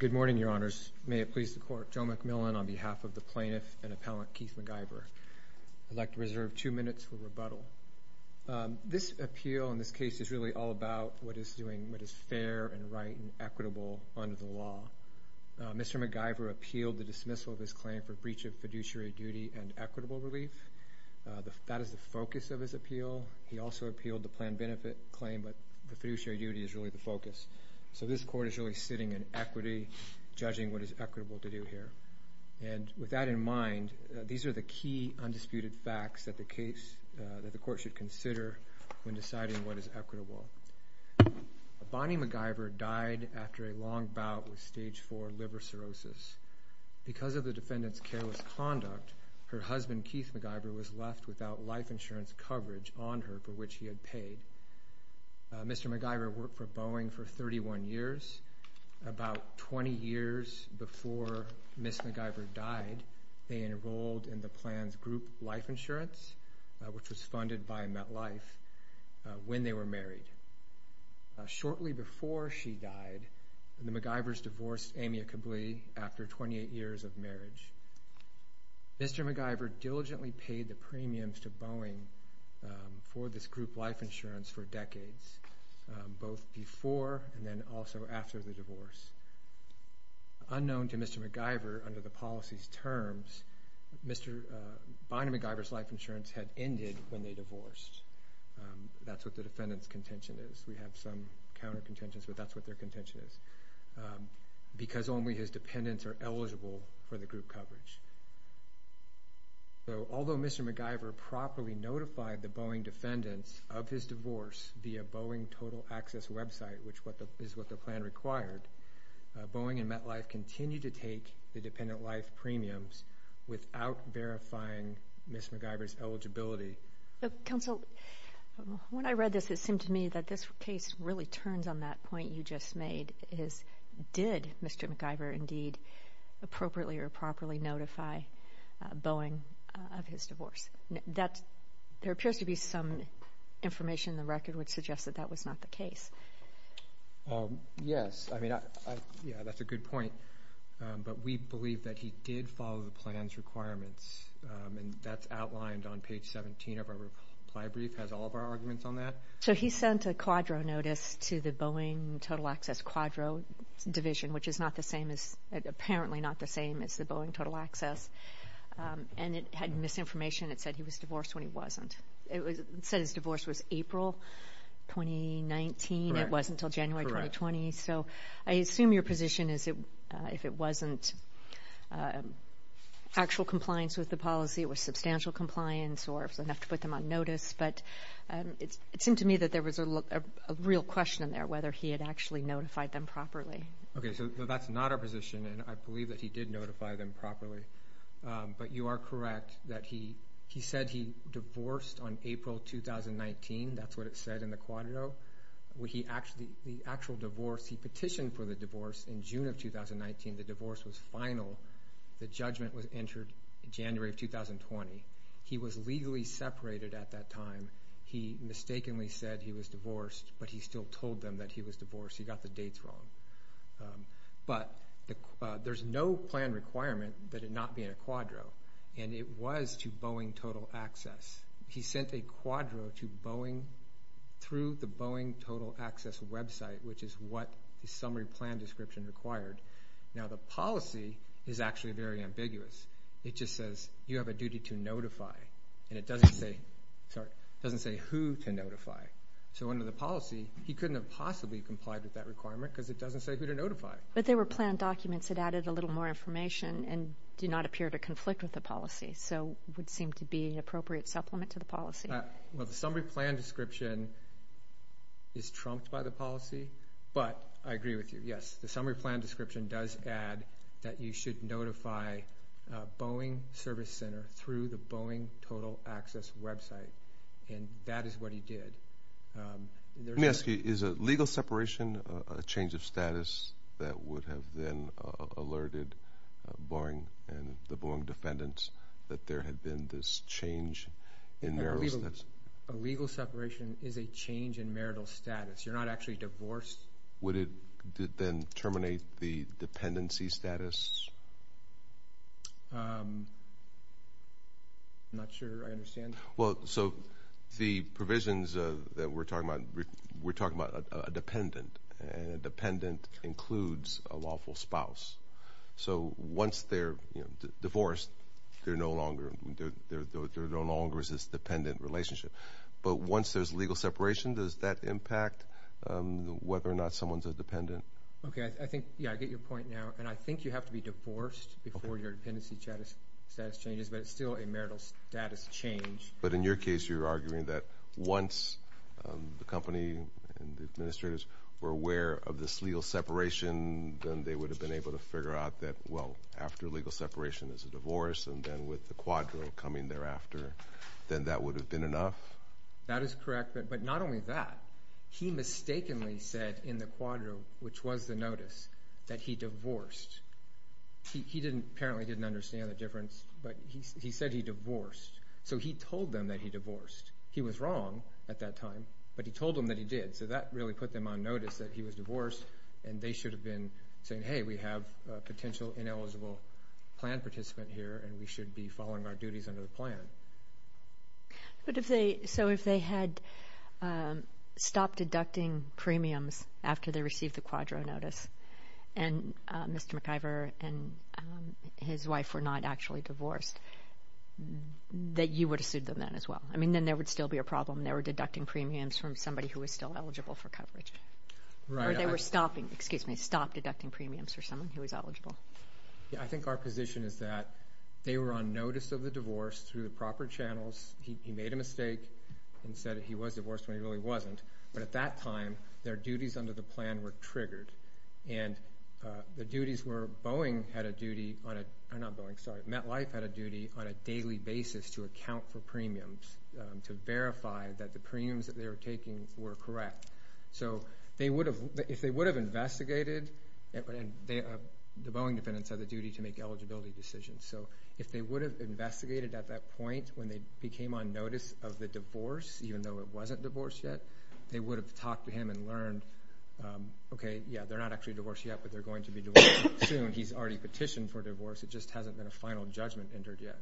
Good morning, your honors. May it please the court, Joe McMillan on behalf of the plaintiff and appellant Keith McIver. I'd like to reserve two minutes for rebuttal. This appeal in this case is really all about what is fair and right and equitable under the law. Mr. McIver appealed the dismissal of his claim for breach of fiduciary duty and equitable relief. That is the focus of his appeal. He also appealed the plan benefit claim, but the fiduciary duty is really the focus. So this court is really sitting in equity, judging what is equitable to do here. And with that in mind, these are the key undisputed facts that the case that the court should consider when deciding what is equitable. Bonnie McIver died after a long bout with stage four liver cirrhosis. Because of the defendant's careless conduct, her husband, Keith McIver, was left without life insurance coverage on her for which he had paid. Mr. McIver worked for Boeing for 31 years. About 20 years before Ms. McIver died, they enrolled in the Plans Group Life Insurance, which was funded by MetLife, when they were married. Shortly before she died, the McIvers divorced Amia Kably after 28 years of marriage. Mr. McIver diligently paid the premiums to Boeing for this group life insurance for decades, both before and then also after the divorce. Unknown to Mr. McIver, under the policy's terms, Mr. McIver's life insurance had ended when they divorced. That's what the defendant's contention is. We have some counter-contentions, but that's what their contention is. Because only his dependents are eligible for the group coverage. Although Mr. McIver properly notified the Boeing defendants of his divorce via Boeing Total Access website, which is what the plan required, Boeing and MetLife continued to take the dependent life premiums without verifying Ms. McIver's eligibility. Counsel, when I read this, it seemed to me that this case really turns on that point you just made. Did Mr. McIver indeed appropriately or properly notify Boeing of his divorce? There appears to be some information in the record which suggests that that was not the case. Yes, that's a good point, but we believe that he did follow the plan's requirements. That's outlined on page 17 of our reply brief. It has all of our arguments on that. He sent a quadro notice to the Boeing Total Access Quadro Division, which is apparently not the same as the Boeing Total Access. It had misinformation that said he was divorced when he wasn't. It said his divorce was April 2019. It wasn't until January 2020. Correct. I assume your position is if it wasn't actual compliance with the policy, it was substantial compliance or it was enough to put them on notice. It seemed to me that there was a real question in there whether he had actually notified them properly. That's not our position. I believe that he did notify them properly. You are correct that he said he divorced on April 2019. That's what it said in the quadro. He petitioned for the divorce in June of 2019. The divorce was final. The judgment was entered in January of 2020. He was legally separated at that time. He mistakenly said he was divorced, but he still told them that he was divorced. He got the dates wrong. There's no plan requirement that it not be in a quadro. It was to Boeing Total Access. He sent a quadro through the Boeing Total Access website, which is what the summary plan description required. Now, the policy is actually very ambiguous. It just says you have a duty to notify. It doesn't say who to notify. Under the policy, he couldn't have possibly complied with that requirement because it doesn't say who to notify. But they were planned documents that added a little more information and do not appear to conflict with the policy. It would seem to be an appropriate supplement to the policy. Well, the summary plan description is trumped by the policy, but I agree with you. Yes, the summary plan description does add that you should notify Boeing Service Center through the Boeing Total Access website, and that is what he did. Let me ask you, is a legal separation a change of status that would have then alerted Boeing and the Boeing defendants that there had been this change in marital status? A legal separation is a change in marital status. You're not actually divorced. Would it then terminate the dependency status? I'm not sure I understand. Well, so the provisions that we're talking about, we're talking about a dependent, and a dependent includes a lawful spouse. So once they're divorced, they're no longer, there no longer is this dependent relationship. But once there's legal separation, does that impact whether or not someone's a dependent? Okay, I think, yeah, I get your point now. And I think you have to be divorced before your dependency status changes, but it's still a marital status change. But in your case, you're arguing that once the company and the administrators were aware of this legal separation, then they would have been able to figure out that, well, after legal separation is a divorce, and then with the quadro coming thereafter, then that would have been enough? That is correct, but not only that, he mistakenly said in the quadro, which was the notice, that he divorced. He didn't, apparently didn't understand the difference, but he said he divorced. So he told them that he divorced. He was wrong at that time, but he told them that he did. So that really put them on notice that he was divorced, and they should have been saying, hey, we have a potential ineligible plan participant here, and we should be following our duties under the plan. But if they, so if they had stopped deducting premiums after they received the quadro notice, and Mr. McIver and his wife were not actually divorced, that you would have sued them then as well? I mean, then there would still be a problem. They were deducting premiums from somebody who was still eligible for coverage. Right. Or they were stopping, excuse me, stopped deducting premiums for someone who was eligible. Yeah, I think our position is that they were on notice of the divorce through the proper channels. He made a mistake and said he was divorced when he really wasn't, but at that time, their duties under the plan were triggered, and the duties were Boeing had a duty on a, not Boeing, sorry, MetLife had a duty on a daily basis to account for premiums, to verify that the premiums that they were taking were correct. So they would have, if they would have investigated, and the Boeing defendants have the duty to make eligibility decisions, so if they would have investigated at that point when they became on notice of the divorce, even though it wasn't divorced yet, they would have talked to him and learned, okay, yeah, they're not actually divorced yet, but they're going to be divorced soon. He's already petitioned for divorce. It just hasn't been a final judgment entered yet.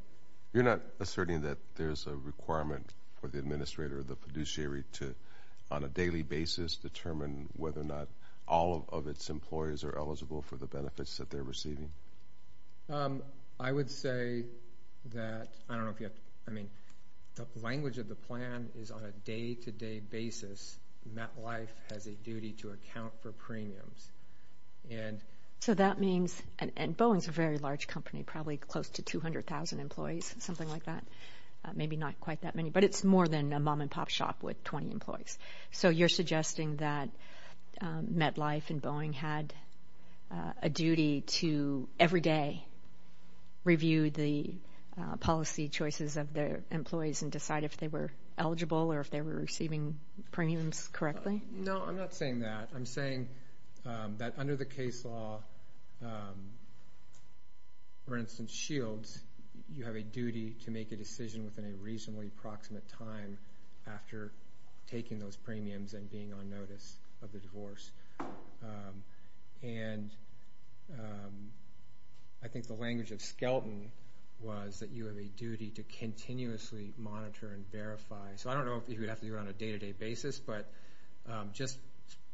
You're not asserting that there's a requirement for the administrator of the fiduciary to, on a daily basis, determine whether or not all of its employers are eligible for the benefits that they're receiving? I would say that, I don't know if you have to, I mean, the language of the plan is on a day-to-day basis, MetLife has a duty to account for premiums, and so that means, and Boeing's a very large company, probably close to 200,000 employees, something like that, maybe not quite that many, but it's more than a mom-and-pop shop with 20 employees. So you're suggesting that MetLife and Boeing had a duty to, every day, review the policy choices of their employees and decide if they were eligible or if they were receiving premiums correctly? No, I'm not saying that. I'm saying that under the case law, for instance, Shields, you have a duty to make a decision within a reasonably approximate time after taking those premiums and being on notice of the divorce. And I think the language of Skelton was that you have a duty to continuously monitor and verify, so I don't know if you would have to do it on a day-to-day basis, but just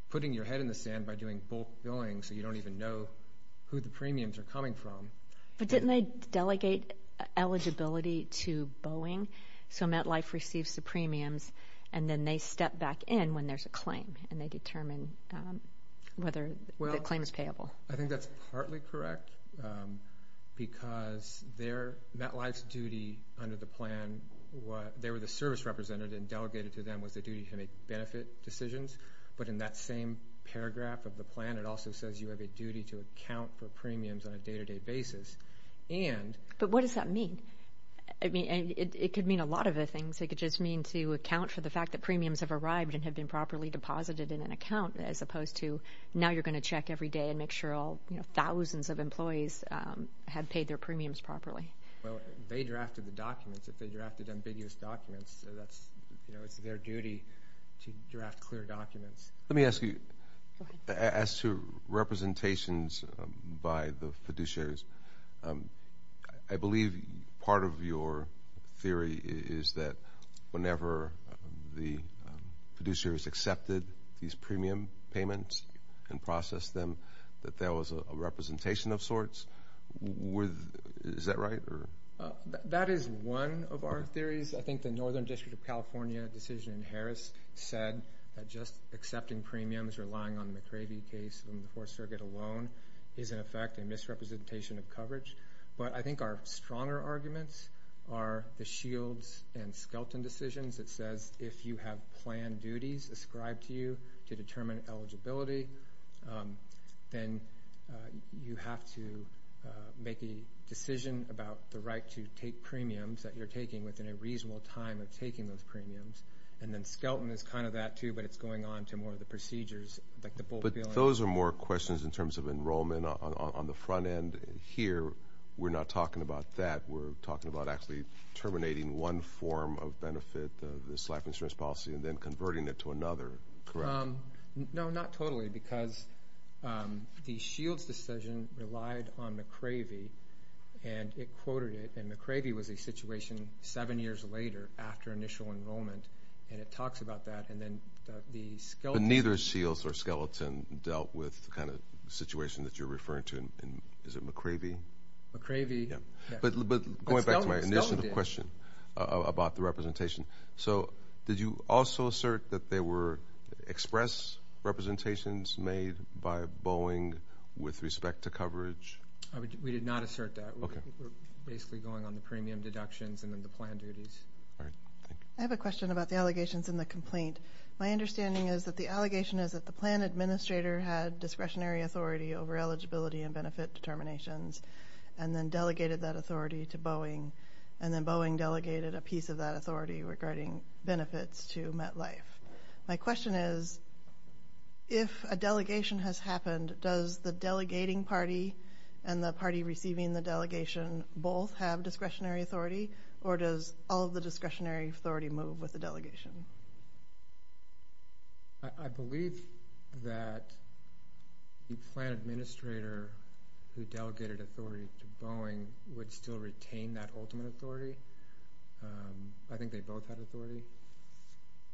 putting your head in the sand by doing bulk billing so you don't even know who the premiums are coming from. But didn't they delegate eligibility to Boeing so MetLife receives the premiums, and then they step back in when there's a claim and they determine whether the claim is payable? I think that's partly correct because MetLife's duty under the plan, they were the service representative, and delegated to them was the duty to make benefit decisions. But in that same paragraph of the plan, it also says you have a duty to account for premiums on a day-to-day basis. But what does that mean? I mean, it could mean a lot of other things. It could just mean to account for the fact that premiums have arrived and have been properly deposited in an account, as opposed to now you're going to check every day and make sure all, you know, thousands of employees have paid their premiums properly. Well, they drafted the documents. If they drafted ambiguous documents, that's, you know, it's their duty to draft clear documents. Let me ask you, as to representations by the fiduciaries, I believe part of your theory is that whenever the fiduciaries accepted these premium payments and processed them, that there was a representation of sorts. Is that right? That is one of our theories. I think the Northern District of California decision in Harris said that just accepting premiums, relying on the McRavy case from the Fourth Circuit alone, is in effect a misrepresentation of coverage. But I think our stronger arguments are the Shields and Skelton decisions that says if you have planned duties ascribed to you to determine eligibility, then you have to make a decision about the right to take premiums that you're taking within a reasonable time of taking those premiums. And then Skelton is kind of that too, but it's going on to more of the procedures. But those are more questions in terms of enrollment on the front end here. We're not talking about that. We're talking about actually terminating one form of benefit, this life insurance policy, and then converting it to another, correct? No, not totally, because the Shields decision relied on McRavy, and it quoted it. And McRavy was a situation seven years later after initial enrollment, and it talks about that. And then the Skelton... But neither Shields or Skelton dealt with the kind of situation that you're referring to. Is it McRavy? McRavy. Yeah. But going back to my initial question about the representation, so did you also assert that there were express representations made by Boeing with respect to coverage? We did not assert that. We're basically going on the premium deductions and then the planned duties. All right. Thank you. I have a question about the allegations in the complaint. My understanding is that the allegation is that the plan administrator had discretionary authority over eligibility and benefit determinations and then delegated that authority to Boeing, and then Boeing delegated a piece of that authority regarding benefits to MetLife. My question is, if a delegation has happened, does the delegating party and the party receiving the delegation both have discretionary authority, or does all of the discretionary authority move with the delegation? I believe that the plan administrator who delegated authority to Boeing would still retain that ultimate authority. I think they both had authority.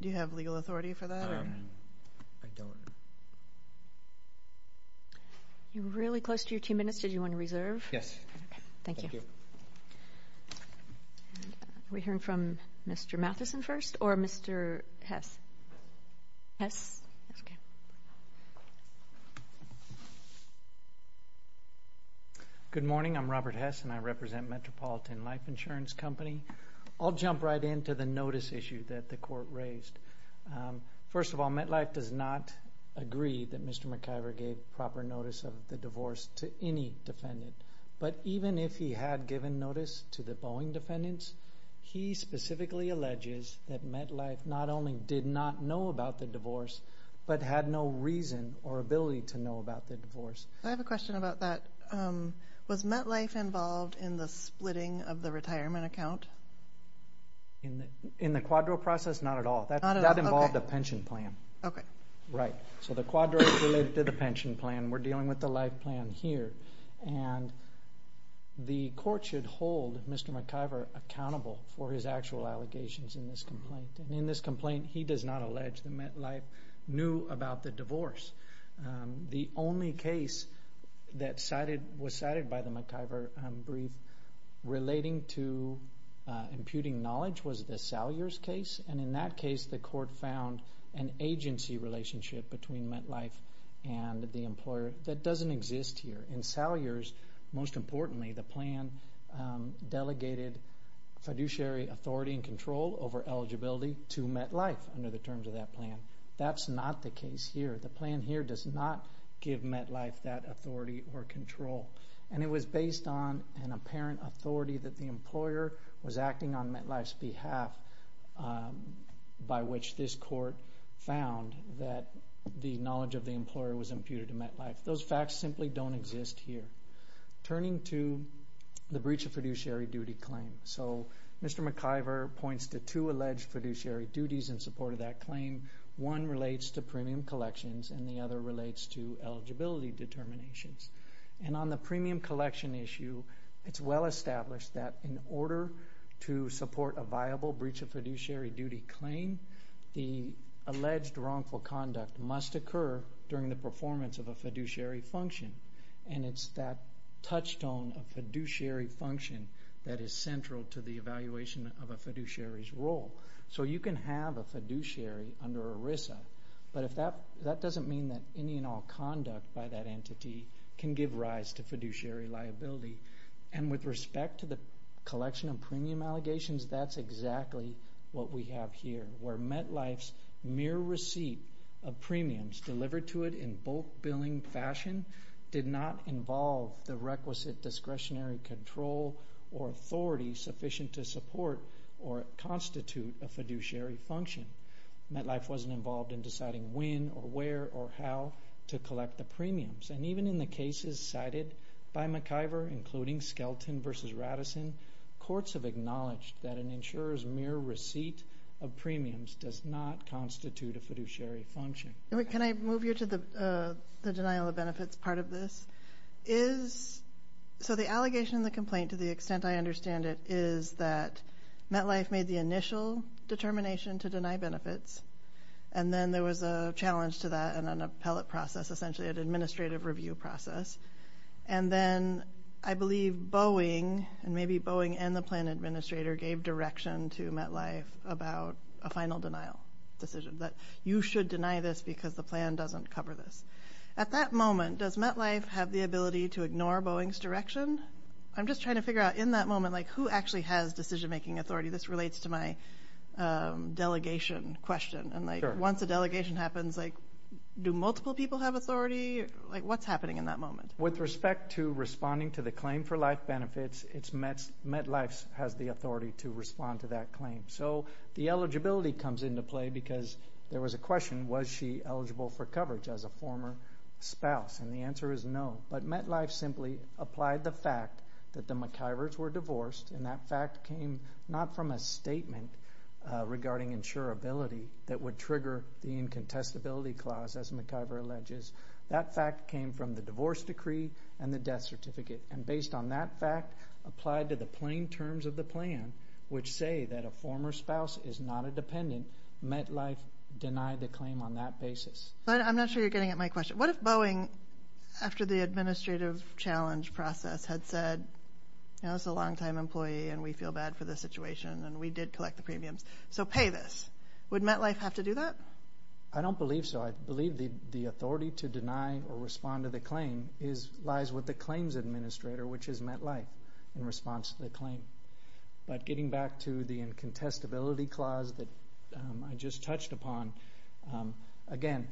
Do you have legal authority for that? I don't. You're really close to your two minutes. Did you want to reserve? Yes. Okay. Thank you. Are we hearing from Mr. Matheson first or Mr. Hess? Good morning. I'm Robert Hess, and I represent Metropolitan Life Insurance Company. I'll jump right into the notice issue that the court raised. First of all, MetLife does not agree that Mr. McIver gave proper notice of the divorce to any defendant, but even if he had given notice to the Boeing defendants, he specifically alleges that MetLife not only did not know about the divorce, but had no reason or ability to know about the divorce. I have a question about that. Was MetLife involved in the splitting of the retirement account? In the quadro process? Not at all. That involved a pension plan. Okay. Right. So the quadro related to the pension plan. We're dealing with the life plan here. The court should hold Mr. McIver accountable for his actual allegations in this complaint. In this complaint, he does not allege that MetLife knew about the divorce. The only case that was cited by the McIver brief relating to imputing knowledge was the Salyers case, and in that case, the court found an agency relationship between MetLife and the employer that doesn't exist here. In Salyers, most importantly, the plan delegated fiduciary authority and control over eligibility to MetLife under the terms of that plan. That's not the case here. The plan here does not give MetLife that authority or control, and it was based on an apparent authority that the employer was acting on MetLife's behalf by which this court found that the knowledge of the employer was imputed to MetLife. Those facts simply don't exist here. Turning to the breach of fiduciary duty claim. Mr. McIver points to two alleged fiduciary duties in support of that claim. One relates to premium collections, and the other relates to eligibility determinations. On the premium collection issue, it's well established that in order to support a viable breach of fiduciary duty claim, the alleged wrongful conduct must occur during the performance of a fiduciary function, and it's that touchstone of fiduciary function that is central to the evaluation of a fiduciary's role. You can have a fiduciary under ERISA, but that doesn't mean that any and all conduct by that entity can give rise to fiduciary liability. With respect to the collection of premium allegations, that's exactly what we have here, where MetLife's mere receipt of premiums delivered to it in bulk billing fashion did not involve the requisite discretionary control or authority sufficient to support or constitute a fiduciary function. MetLife wasn't involved in deciding when or where or how to collect the premiums, and even in the cases cited by McIver, including Skelton v. Radisson, courts have acknowledged that an insurer's mere receipt of premiums does not constitute a fiduciary function. Can I move you to the denial of benefits part of this? So the allegation in the complaint, to the extent I understand it, is that MetLife made the initial determination to deny benefits, and then there was a challenge to that in an appellate process, essentially an administrative review process, and then I believe Boeing, and maybe Boeing and the plan administrator, gave direction to MetLife about a final denial decision, that you should deny this because the plan doesn't cover this. At that moment, does MetLife have the ability to ignore Boeing's direction? I'm just trying to figure out, in that moment, who actually has decision-making authority? This relates to my delegation question, and once a delegation happens, do multiple people have authority? What's happening in that moment? With respect to responding to the claim for life benefits, MetLife has the authority to respond to that claim. So the eligibility comes into play because there was a question, was she eligible for coverage as a former spouse? And the answer is no, but MetLife simply applied the fact that the McIvers were divorced, and that fact came not from a statement regarding insurability that would trigger the incontestability clause, as McIver alleges. That fact came from the divorce decree and the death certificate, and based on that fact applied to the plain terms of the plan, which say that a former spouse is not a dependent, MetLife denied the claim on that basis. I'm not sure you're getting at my question. What if Boeing, after the administrative challenge process, had said, you know, it's a long-time employee and we feel bad for the situation, and we did collect the premiums, so pay this. Would MetLife have to do that? I don't believe so. I believe the authority to deny or respond to the claim lies with the claims administrator, which is MetLife, in response to the claim. But getting back to the incontestability clause that I just touched upon, again,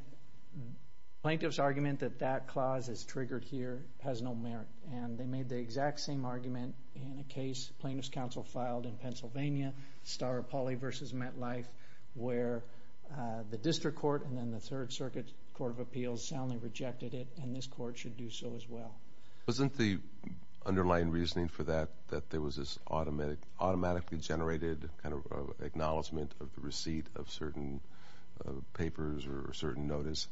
plaintiff's argument that that clause is triggered here has no merit, and they made the exact same argument in a case plaintiff's counsel filed in Pennsylvania, Staropoli v. MetLife, where the district court and then the Third Circuit Court of Appeals soundly rejected it, and this court should do so as well. Wasn't the underlying reasoning for that that there was this automatically generated kind of acknowledgement of the receipt of certain papers or certain notice?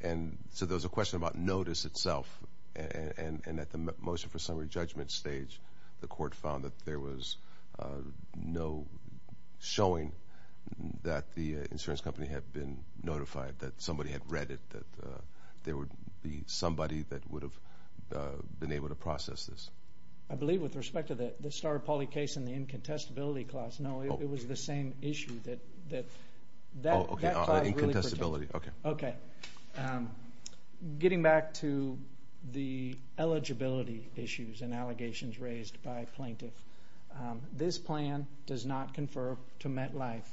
And so there was a question about notice itself, and at the motion for summary judgment stage, the court found that there was no showing that the insurance company had been notified, that somebody had read it, that there would be somebody that would have been able to process this. I believe with respect to the Staropoli case and the incontestability clause, no, it was the same issue that that... Oh, okay, incontestability, okay. Okay. Getting back to the eligibility issues and allegations raised by plaintiff, this plan does not confer to MetLife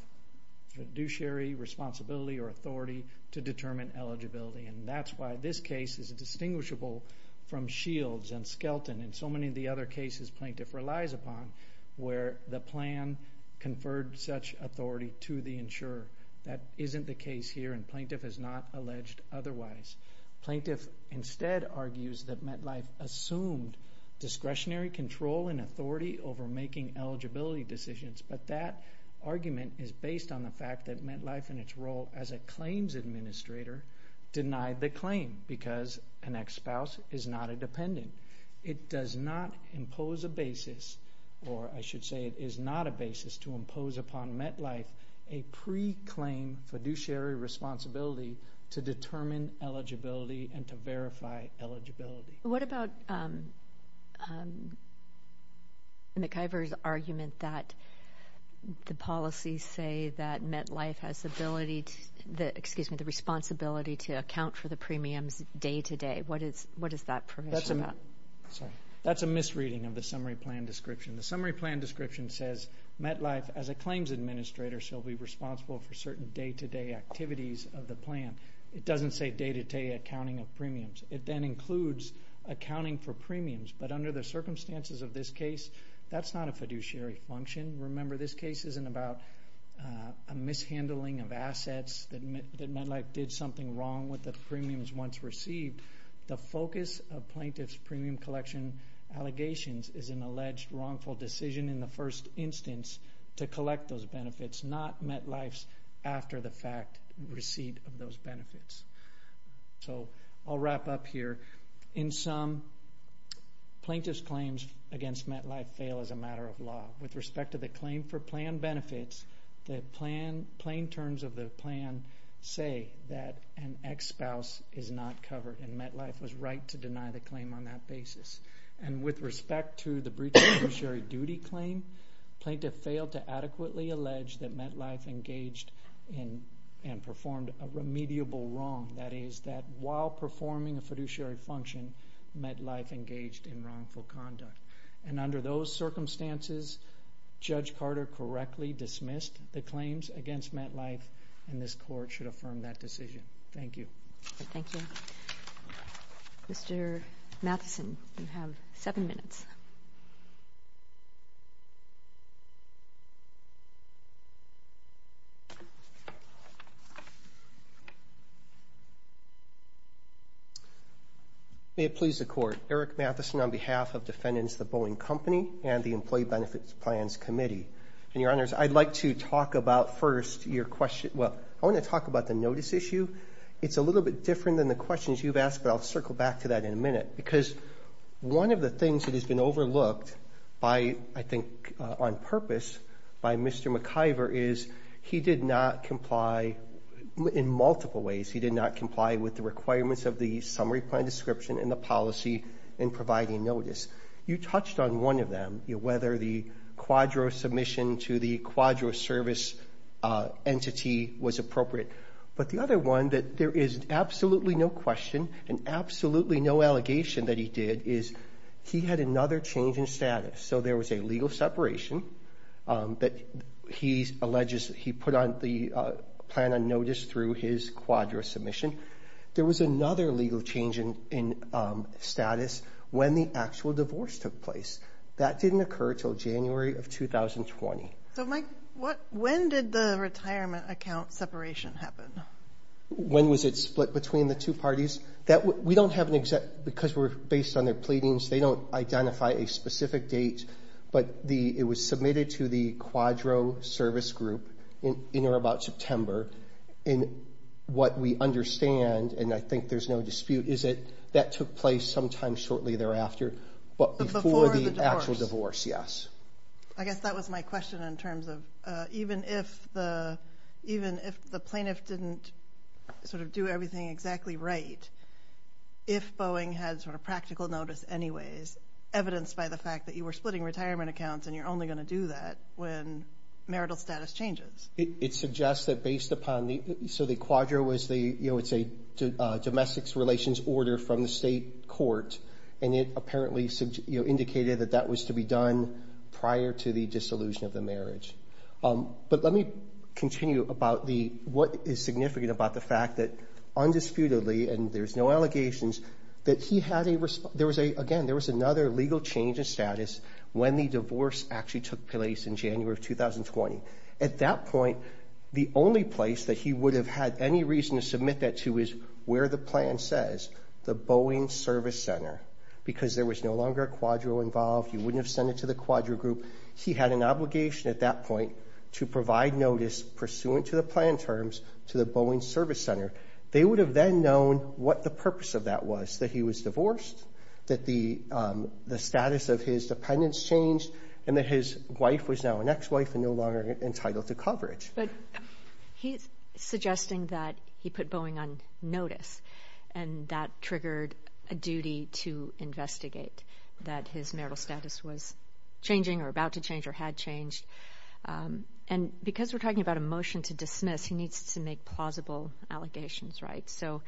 fiduciary responsibility or authority to determine eligibility, and that's why this case is distinguishable from Shields and Skelton and so many of the other cases plaintiff relies upon, where the plan conferred such authority to the insurer. That isn't the case here, and plaintiff has not alleged otherwise. Plaintiff instead argues that MetLife assumed discretionary control and authority over making eligibility decisions, but that argument is based on the fact that MetLife in its role as a claims administrator denied the claim because an ex-spouse is not a dependent. It does not impose a basis, or I should say it is not a basis to impose upon MetLife a pre-claim fiduciary responsibility to determine eligibility and to verify eligibility. What about McIver's argument that the policies say that MetLife has ability to... Excuse me, the responsibility to account for the premiums day-to-day. What is that permission about? Sorry, that's a misreading of the summary plan description. The summary plan description says MetLife, as a claims administrator, shall be responsible for certain day-to-day activities of the plan. It doesn't say day-to-day accounting of premiums. It then includes accounting for premiums, but under the circumstances of this case, that's not a fiduciary function. Remember, this case isn't about a mishandling of assets, that MetLife did something wrong with the premiums once received. The focus of plaintiff's premium collection allegations is an alleged wrongful decision in the first instance to collect those benefits, not MetLife's, after the fact, receipt of those benefits. I'll wrap up here. In sum, plaintiff's claims against MetLife fail as a matter of law. With respect to the claim for plan benefits, the plain terms of the plan say that an ex-spouse is not covered, and MetLife was right to deny the claim on that basis. With respect to the breach of fiduciary duty claim, plaintiff failed to adequately allege that MetLife engaged in and performed a remediable wrong, that is, that while performing a fiduciary function, MetLife engaged in wrongful conduct. And under those circumstances, Judge Carter correctly dismissed the claims against MetLife, and this Court should affirm that decision. Thank you. Thank you. Mr. Matheson, you have seven minutes. May it please the Court. Eric Matheson on behalf of defendants, the Boeing Company, and the Employee Benefits Plans Committee. And, Your Honors, I'd like to talk about first your question, well, I want to talk about the notice issue. It's a little bit different than the questions you've asked, but I'll circle back to that in a minute, because one of the things that has been overlooked by, I think on purpose, by Mr. McIver is he did not comply in multiple ways. He did not comply with the requirements of the summary plan description and the policy in providing notice. You touched on one of them, whether the quadro submission to the quadro service entity was appropriate. But the other one, that there is absolutely no question and absolutely no allegation that he did, is he had another change in status. So there was a legal separation that he put on the plan on notice through his quadro submission. There was another legal change in status when the actual divorce took place. That didn't occur until January of 2020. So Mike, when did the retirement account separation happen? When was it split between the two parties? Because we're based on their pleadings, they don't identify a specific date, but it was submitted to the quadro service group in or about September. And what we understand, and I think there's no dispute, is that that took place sometime shortly thereafter, but before the actual divorce, yes. I guess that was my question in terms of even if the plaintiff didn't sort of do everything exactly right, if Boeing had sort of practical notice anyways, evidenced by the fact that you were splitting retirement accounts and you're only going to do that when marital status changes. It suggests that based upon the, so the quadro was the, you know, it's a domestics relations order from the state court, and it indicated that that was to be done prior to the dissolution of the marriage. But let me continue about the, what is significant about the fact that undisputedly, and there's no allegations, that he had a, there was a, again, there was another legal change of status when the divorce actually took place in January of 2020. At that point, the only place that he would have had any reason to submit that to is where the plan says, the Boeing Service Center, because there was no longer a quadro involved. You wouldn't have sent it to the quadro group. He had an obligation at that point to provide notice pursuant to the plan terms to the Boeing Service Center. They would have then known what the purpose of that was, that he was divorced, that the status of his dependents changed, and that his wife was now an ex-wife and no longer entitled to coverage. But he's suggesting that he put Boeing on notice, and that triggered a duty to investigate that his marital status was changing, or about to change, or had changed. And because we're talking about a motion to dismiss, he needs to make plausible allegations, right? So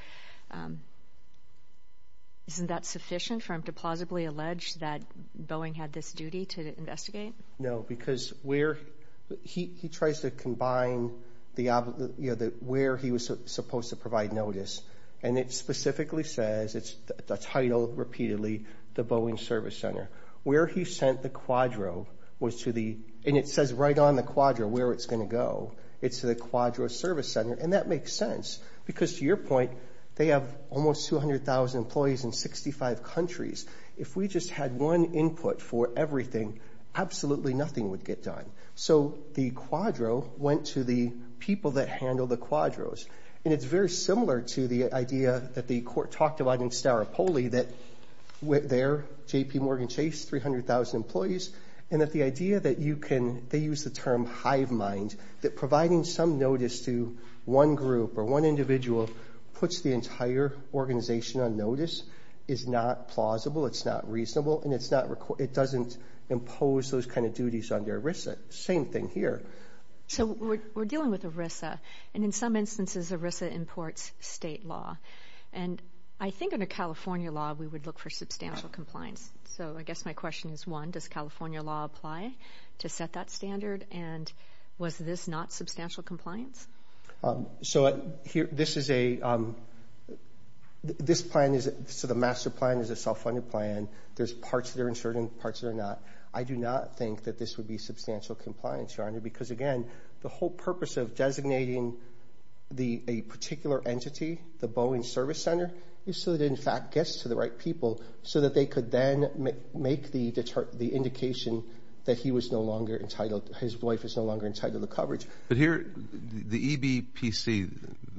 isn't that sufficient for him to plausibly allege that Boeing had this duty to investigate? No, because he tries to combine where he was supposed to provide notice, and it specifically says, it's titled repeatedly, the Boeing Service Center. Where he sent the quadro was to the, and it says right on the quadro where it's going to go, it's the quadro service center, and that makes sense. Because to your point, they have almost 200,000 employees in 65 countries. If we just had one input for everything, absolutely nothing would get done. So the quadro went to the people that handle the quadros. And it's very similar to the idea that the court talked about in Staropoli, that there, JPMorgan Chase, 300,000 employees, and that the idea that you can, they use the term hive mind, that providing some notice to one group or one individual puts the entire organization on notice is not plausible, it's not reasonable, and it doesn't impose those kind of duties under ERISA. Same thing here. So we're dealing with ERISA, and in some instances, ERISA imports state law. And I think under California law, we would look for substantial compliance. So I guess my question is, one, does California law apply to set that standard? And was this not substantial compliance? So this is a, this plan is, so the master plan is a self-funded plan. There's parts that are insured and parts that are not. I do not think that this would be substantial compliance, Your Honor, because again, the whole purpose of designating a particular entity, the Boeing service center, is so that it in fact gets to the right people, so that they could then make the indication that he was no longer entitled, his wife is no longer entitled to coverage. But here, the EBPC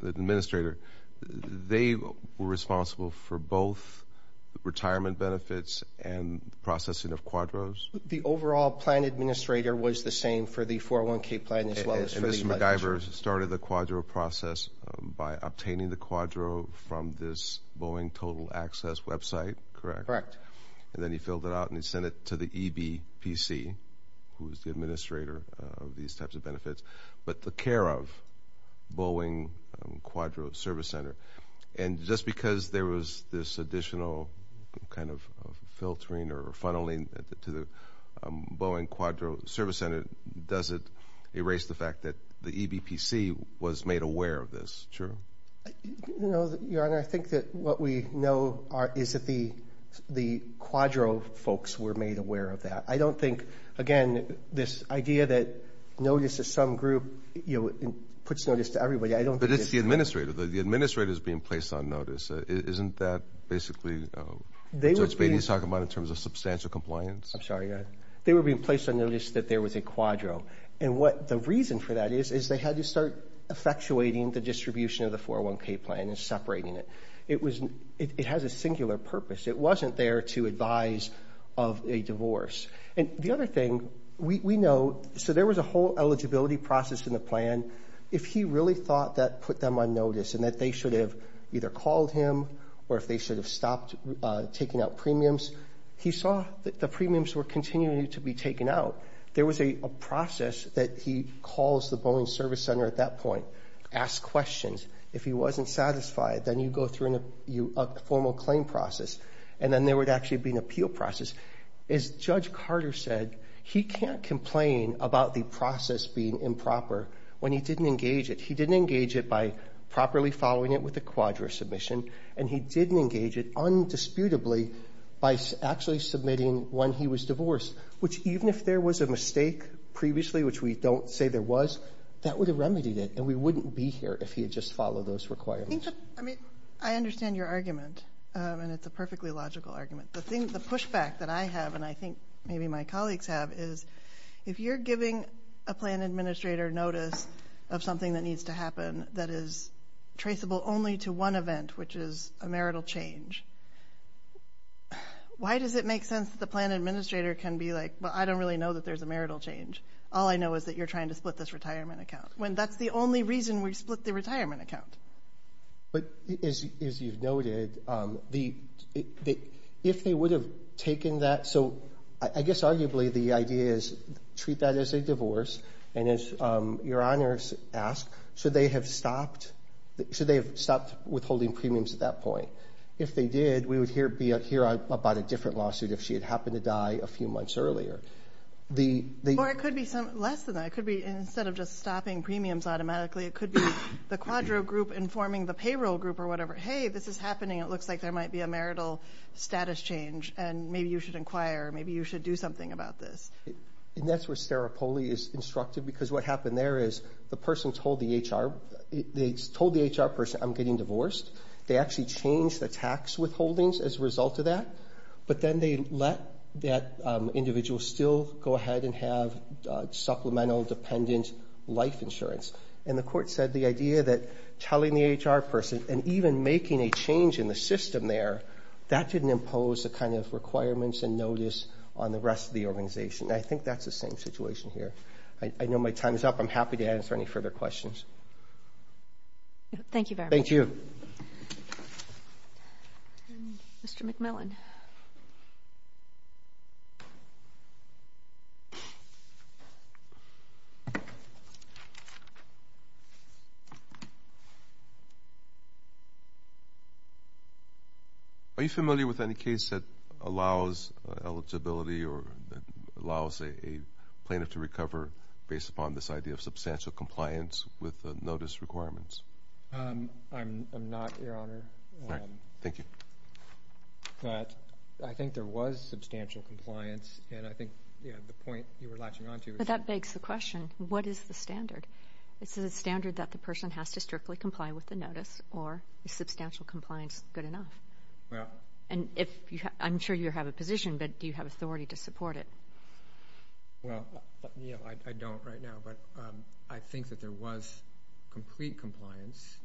administrator, they were responsible for both retirement benefits and processing of quadros. The overall plan administrator was the same for the 401k plan as well as for the- So the divers started the quadro process by obtaining the quadro from this Boeing total access website, correct? And then he filled it out and he sent it to the EBPC, who is the administrator of these types of benefits, but the care of Boeing Quadro Service Center. And just because there was this additional kind of filtering or funneling to the Boeing Quadro Service Center, does it erase the fact that the EBPC was made aware of this? Sure. No, Your Honor. I think that what we know is that the quadro folks were made aware of that. I don't think, again, this idea that notice to some group, you know, puts notice to everybody. I don't think- But it's the administrator. The administrator is being placed on notice. Isn't that basically what Judge Beatty is talking about in terms of substantial compliance? I'm sorry, Your Honor. They were being placed on notice that there was a quadro. And what the reason for that is, is they had to start effectuating the distribution of the 401k plan and separating it. It has a singular purpose. It wasn't there to advise of a divorce. And the other thing we know, so there was a whole eligibility process in the plan. If he really thought that put them on notice and that they should have either called him or if they should have stopped taking out premiums, he saw that the premiums were continuing to be taken out. There was a process that he calls the Boeing Service Center at that point, asks questions. If he wasn't satisfied, then you go through a formal claim process. And then there would actually be an appeal process. As Judge Carter said, he can't complain about the process being improper when he didn't engage it. He didn't engage it by properly following it with a quadro submission. And he didn't engage it undisputably by actually submitting when he was divorced, which even if there was a mistake previously, which we don't say there was, that would have remedied it. And we wouldn't be here if he had just followed those requirements. I mean, I understand your argument. And it's a perfectly logical argument. The pushback that I have, and I think maybe my colleagues have, is if you're giving a plan administrator notice of something that needs to happen that is traceable only to one event, which is a marital change, why does it make sense that the plan administrator can be like, well, I don't really know that there's a marital change. All I know is that you're trying to split this retirement account, when that's the only reason we split the retirement account. But as you've noted, if they would have taken that, so I guess arguably the idea is treat that as a divorce. And as Your Honors asked, should they have stopped withholding premiums at that point? If they did, we would hear about a different lawsuit if she had happened to die a few months earlier. Or it could be less than that. It could be instead of just stopping premiums automatically, it could be the quadro group informing the payroll group or whatever, hey, this is happening, it looks like there might be a marital status change, and maybe you should inquire, maybe you should do something about this. And that's where Stara Poli is instructed, because what happened there is the person told the HR person, I'm getting divorced. They actually changed the tax withholdings as a result of that. But then they let that individual still go ahead and have supplemental dependent life insurance. And the court said the idea that telling the HR person and even making a change in the system there, that didn't impose the kind of requirements and notice on the rest of the organization. I think that's the same situation here. I know my time is up. I'm happy to answer any further questions. Thank you very much. Thank you. Mr. McMillan. Are you familiar with any case that allows eligibility or allows a plaintiff to recover based upon this idea of substantial compliance with notice requirements? I'm not, Your Honor. Thank you. But I think there was substantial compliance, and I think, you know, the point you were latching on to was... But that begs the question, what is the standard? Is it a standard that the person has to strictly comply with the notice, or is substantial compliance good enough? Well... And if you have, I'm sure you have a position, but do you have authority to support it? Well, you know, I don't right now. But I think that there was complete compliance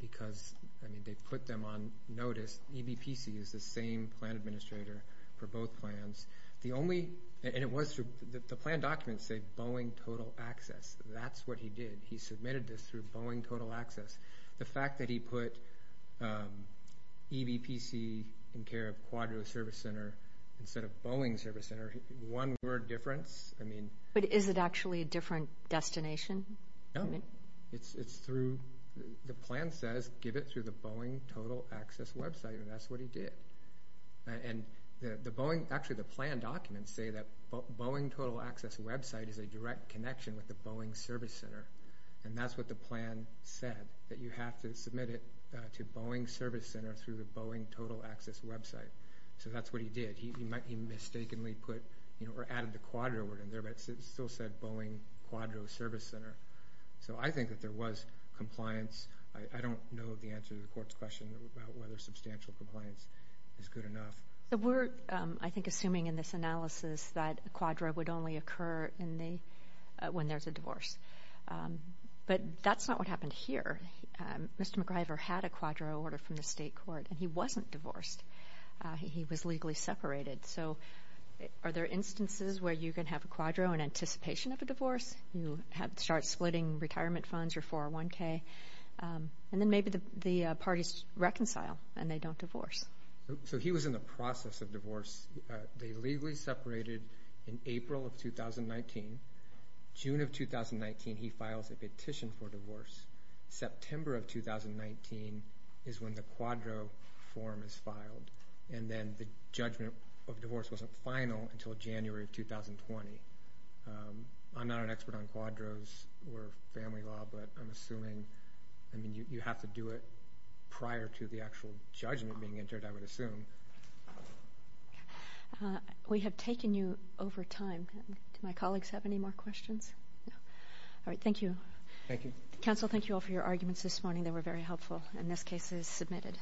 because, I mean, they put them on notice. EBPC is the same plan administrator for both plans. The only... And it was through... The plan documents say Boeing Total Access. That's what he did. He submitted this through Boeing Total Access. The fact that he put EBPC in care of Quadro Service Center instead of Boeing Service Center, one word difference, I mean... But is it actually a different destination? No. It's through... The plan says give it through the Boeing Total Access website, and that's what he did. And the Boeing... Actually, the plan documents say that Boeing Total Access website is a direct connection with the Boeing Service Center. And that's what the plan said. That you have to submit it to Boeing Service Center through the Boeing Total Access website. So that's what he did. He mistakenly put, you know, or added the Quadro word in there, but it still said Boeing Quadro Service Center. So I think that there was compliance. I don't know the answer to the court's question about whether substantial compliance is good enough. So we're, I think, assuming in this analysis that Quadro would only occur in the... When there's a divorce. But that's not what happened here. Mr. McGriver had a Quadro order from the state court, and he wasn't divorced. He was legally separated. So are there instances where you can have a Quadro in anticipation of a divorce? You start splitting retirement funds, your 401k? And then maybe the parties reconcile, and they don't divorce. So he was in the process of divorce. They legally separated in April of 2019. June of 2019, he files a petition for divorce. September of 2019 is when the Quadro form is filed. And then the judgment of divorce wasn't final until January of 2020. I'm not an expert on Quadros or family law, but I'm assuming... I mean, you have to do it prior to the actual judgment being entered, I would assume. We have taken you over time. Do my colleagues have any more questions? All right, thank you. Thank you. Counsel, thank you all for your arguments this morning. They were very helpful. And this case is submitted.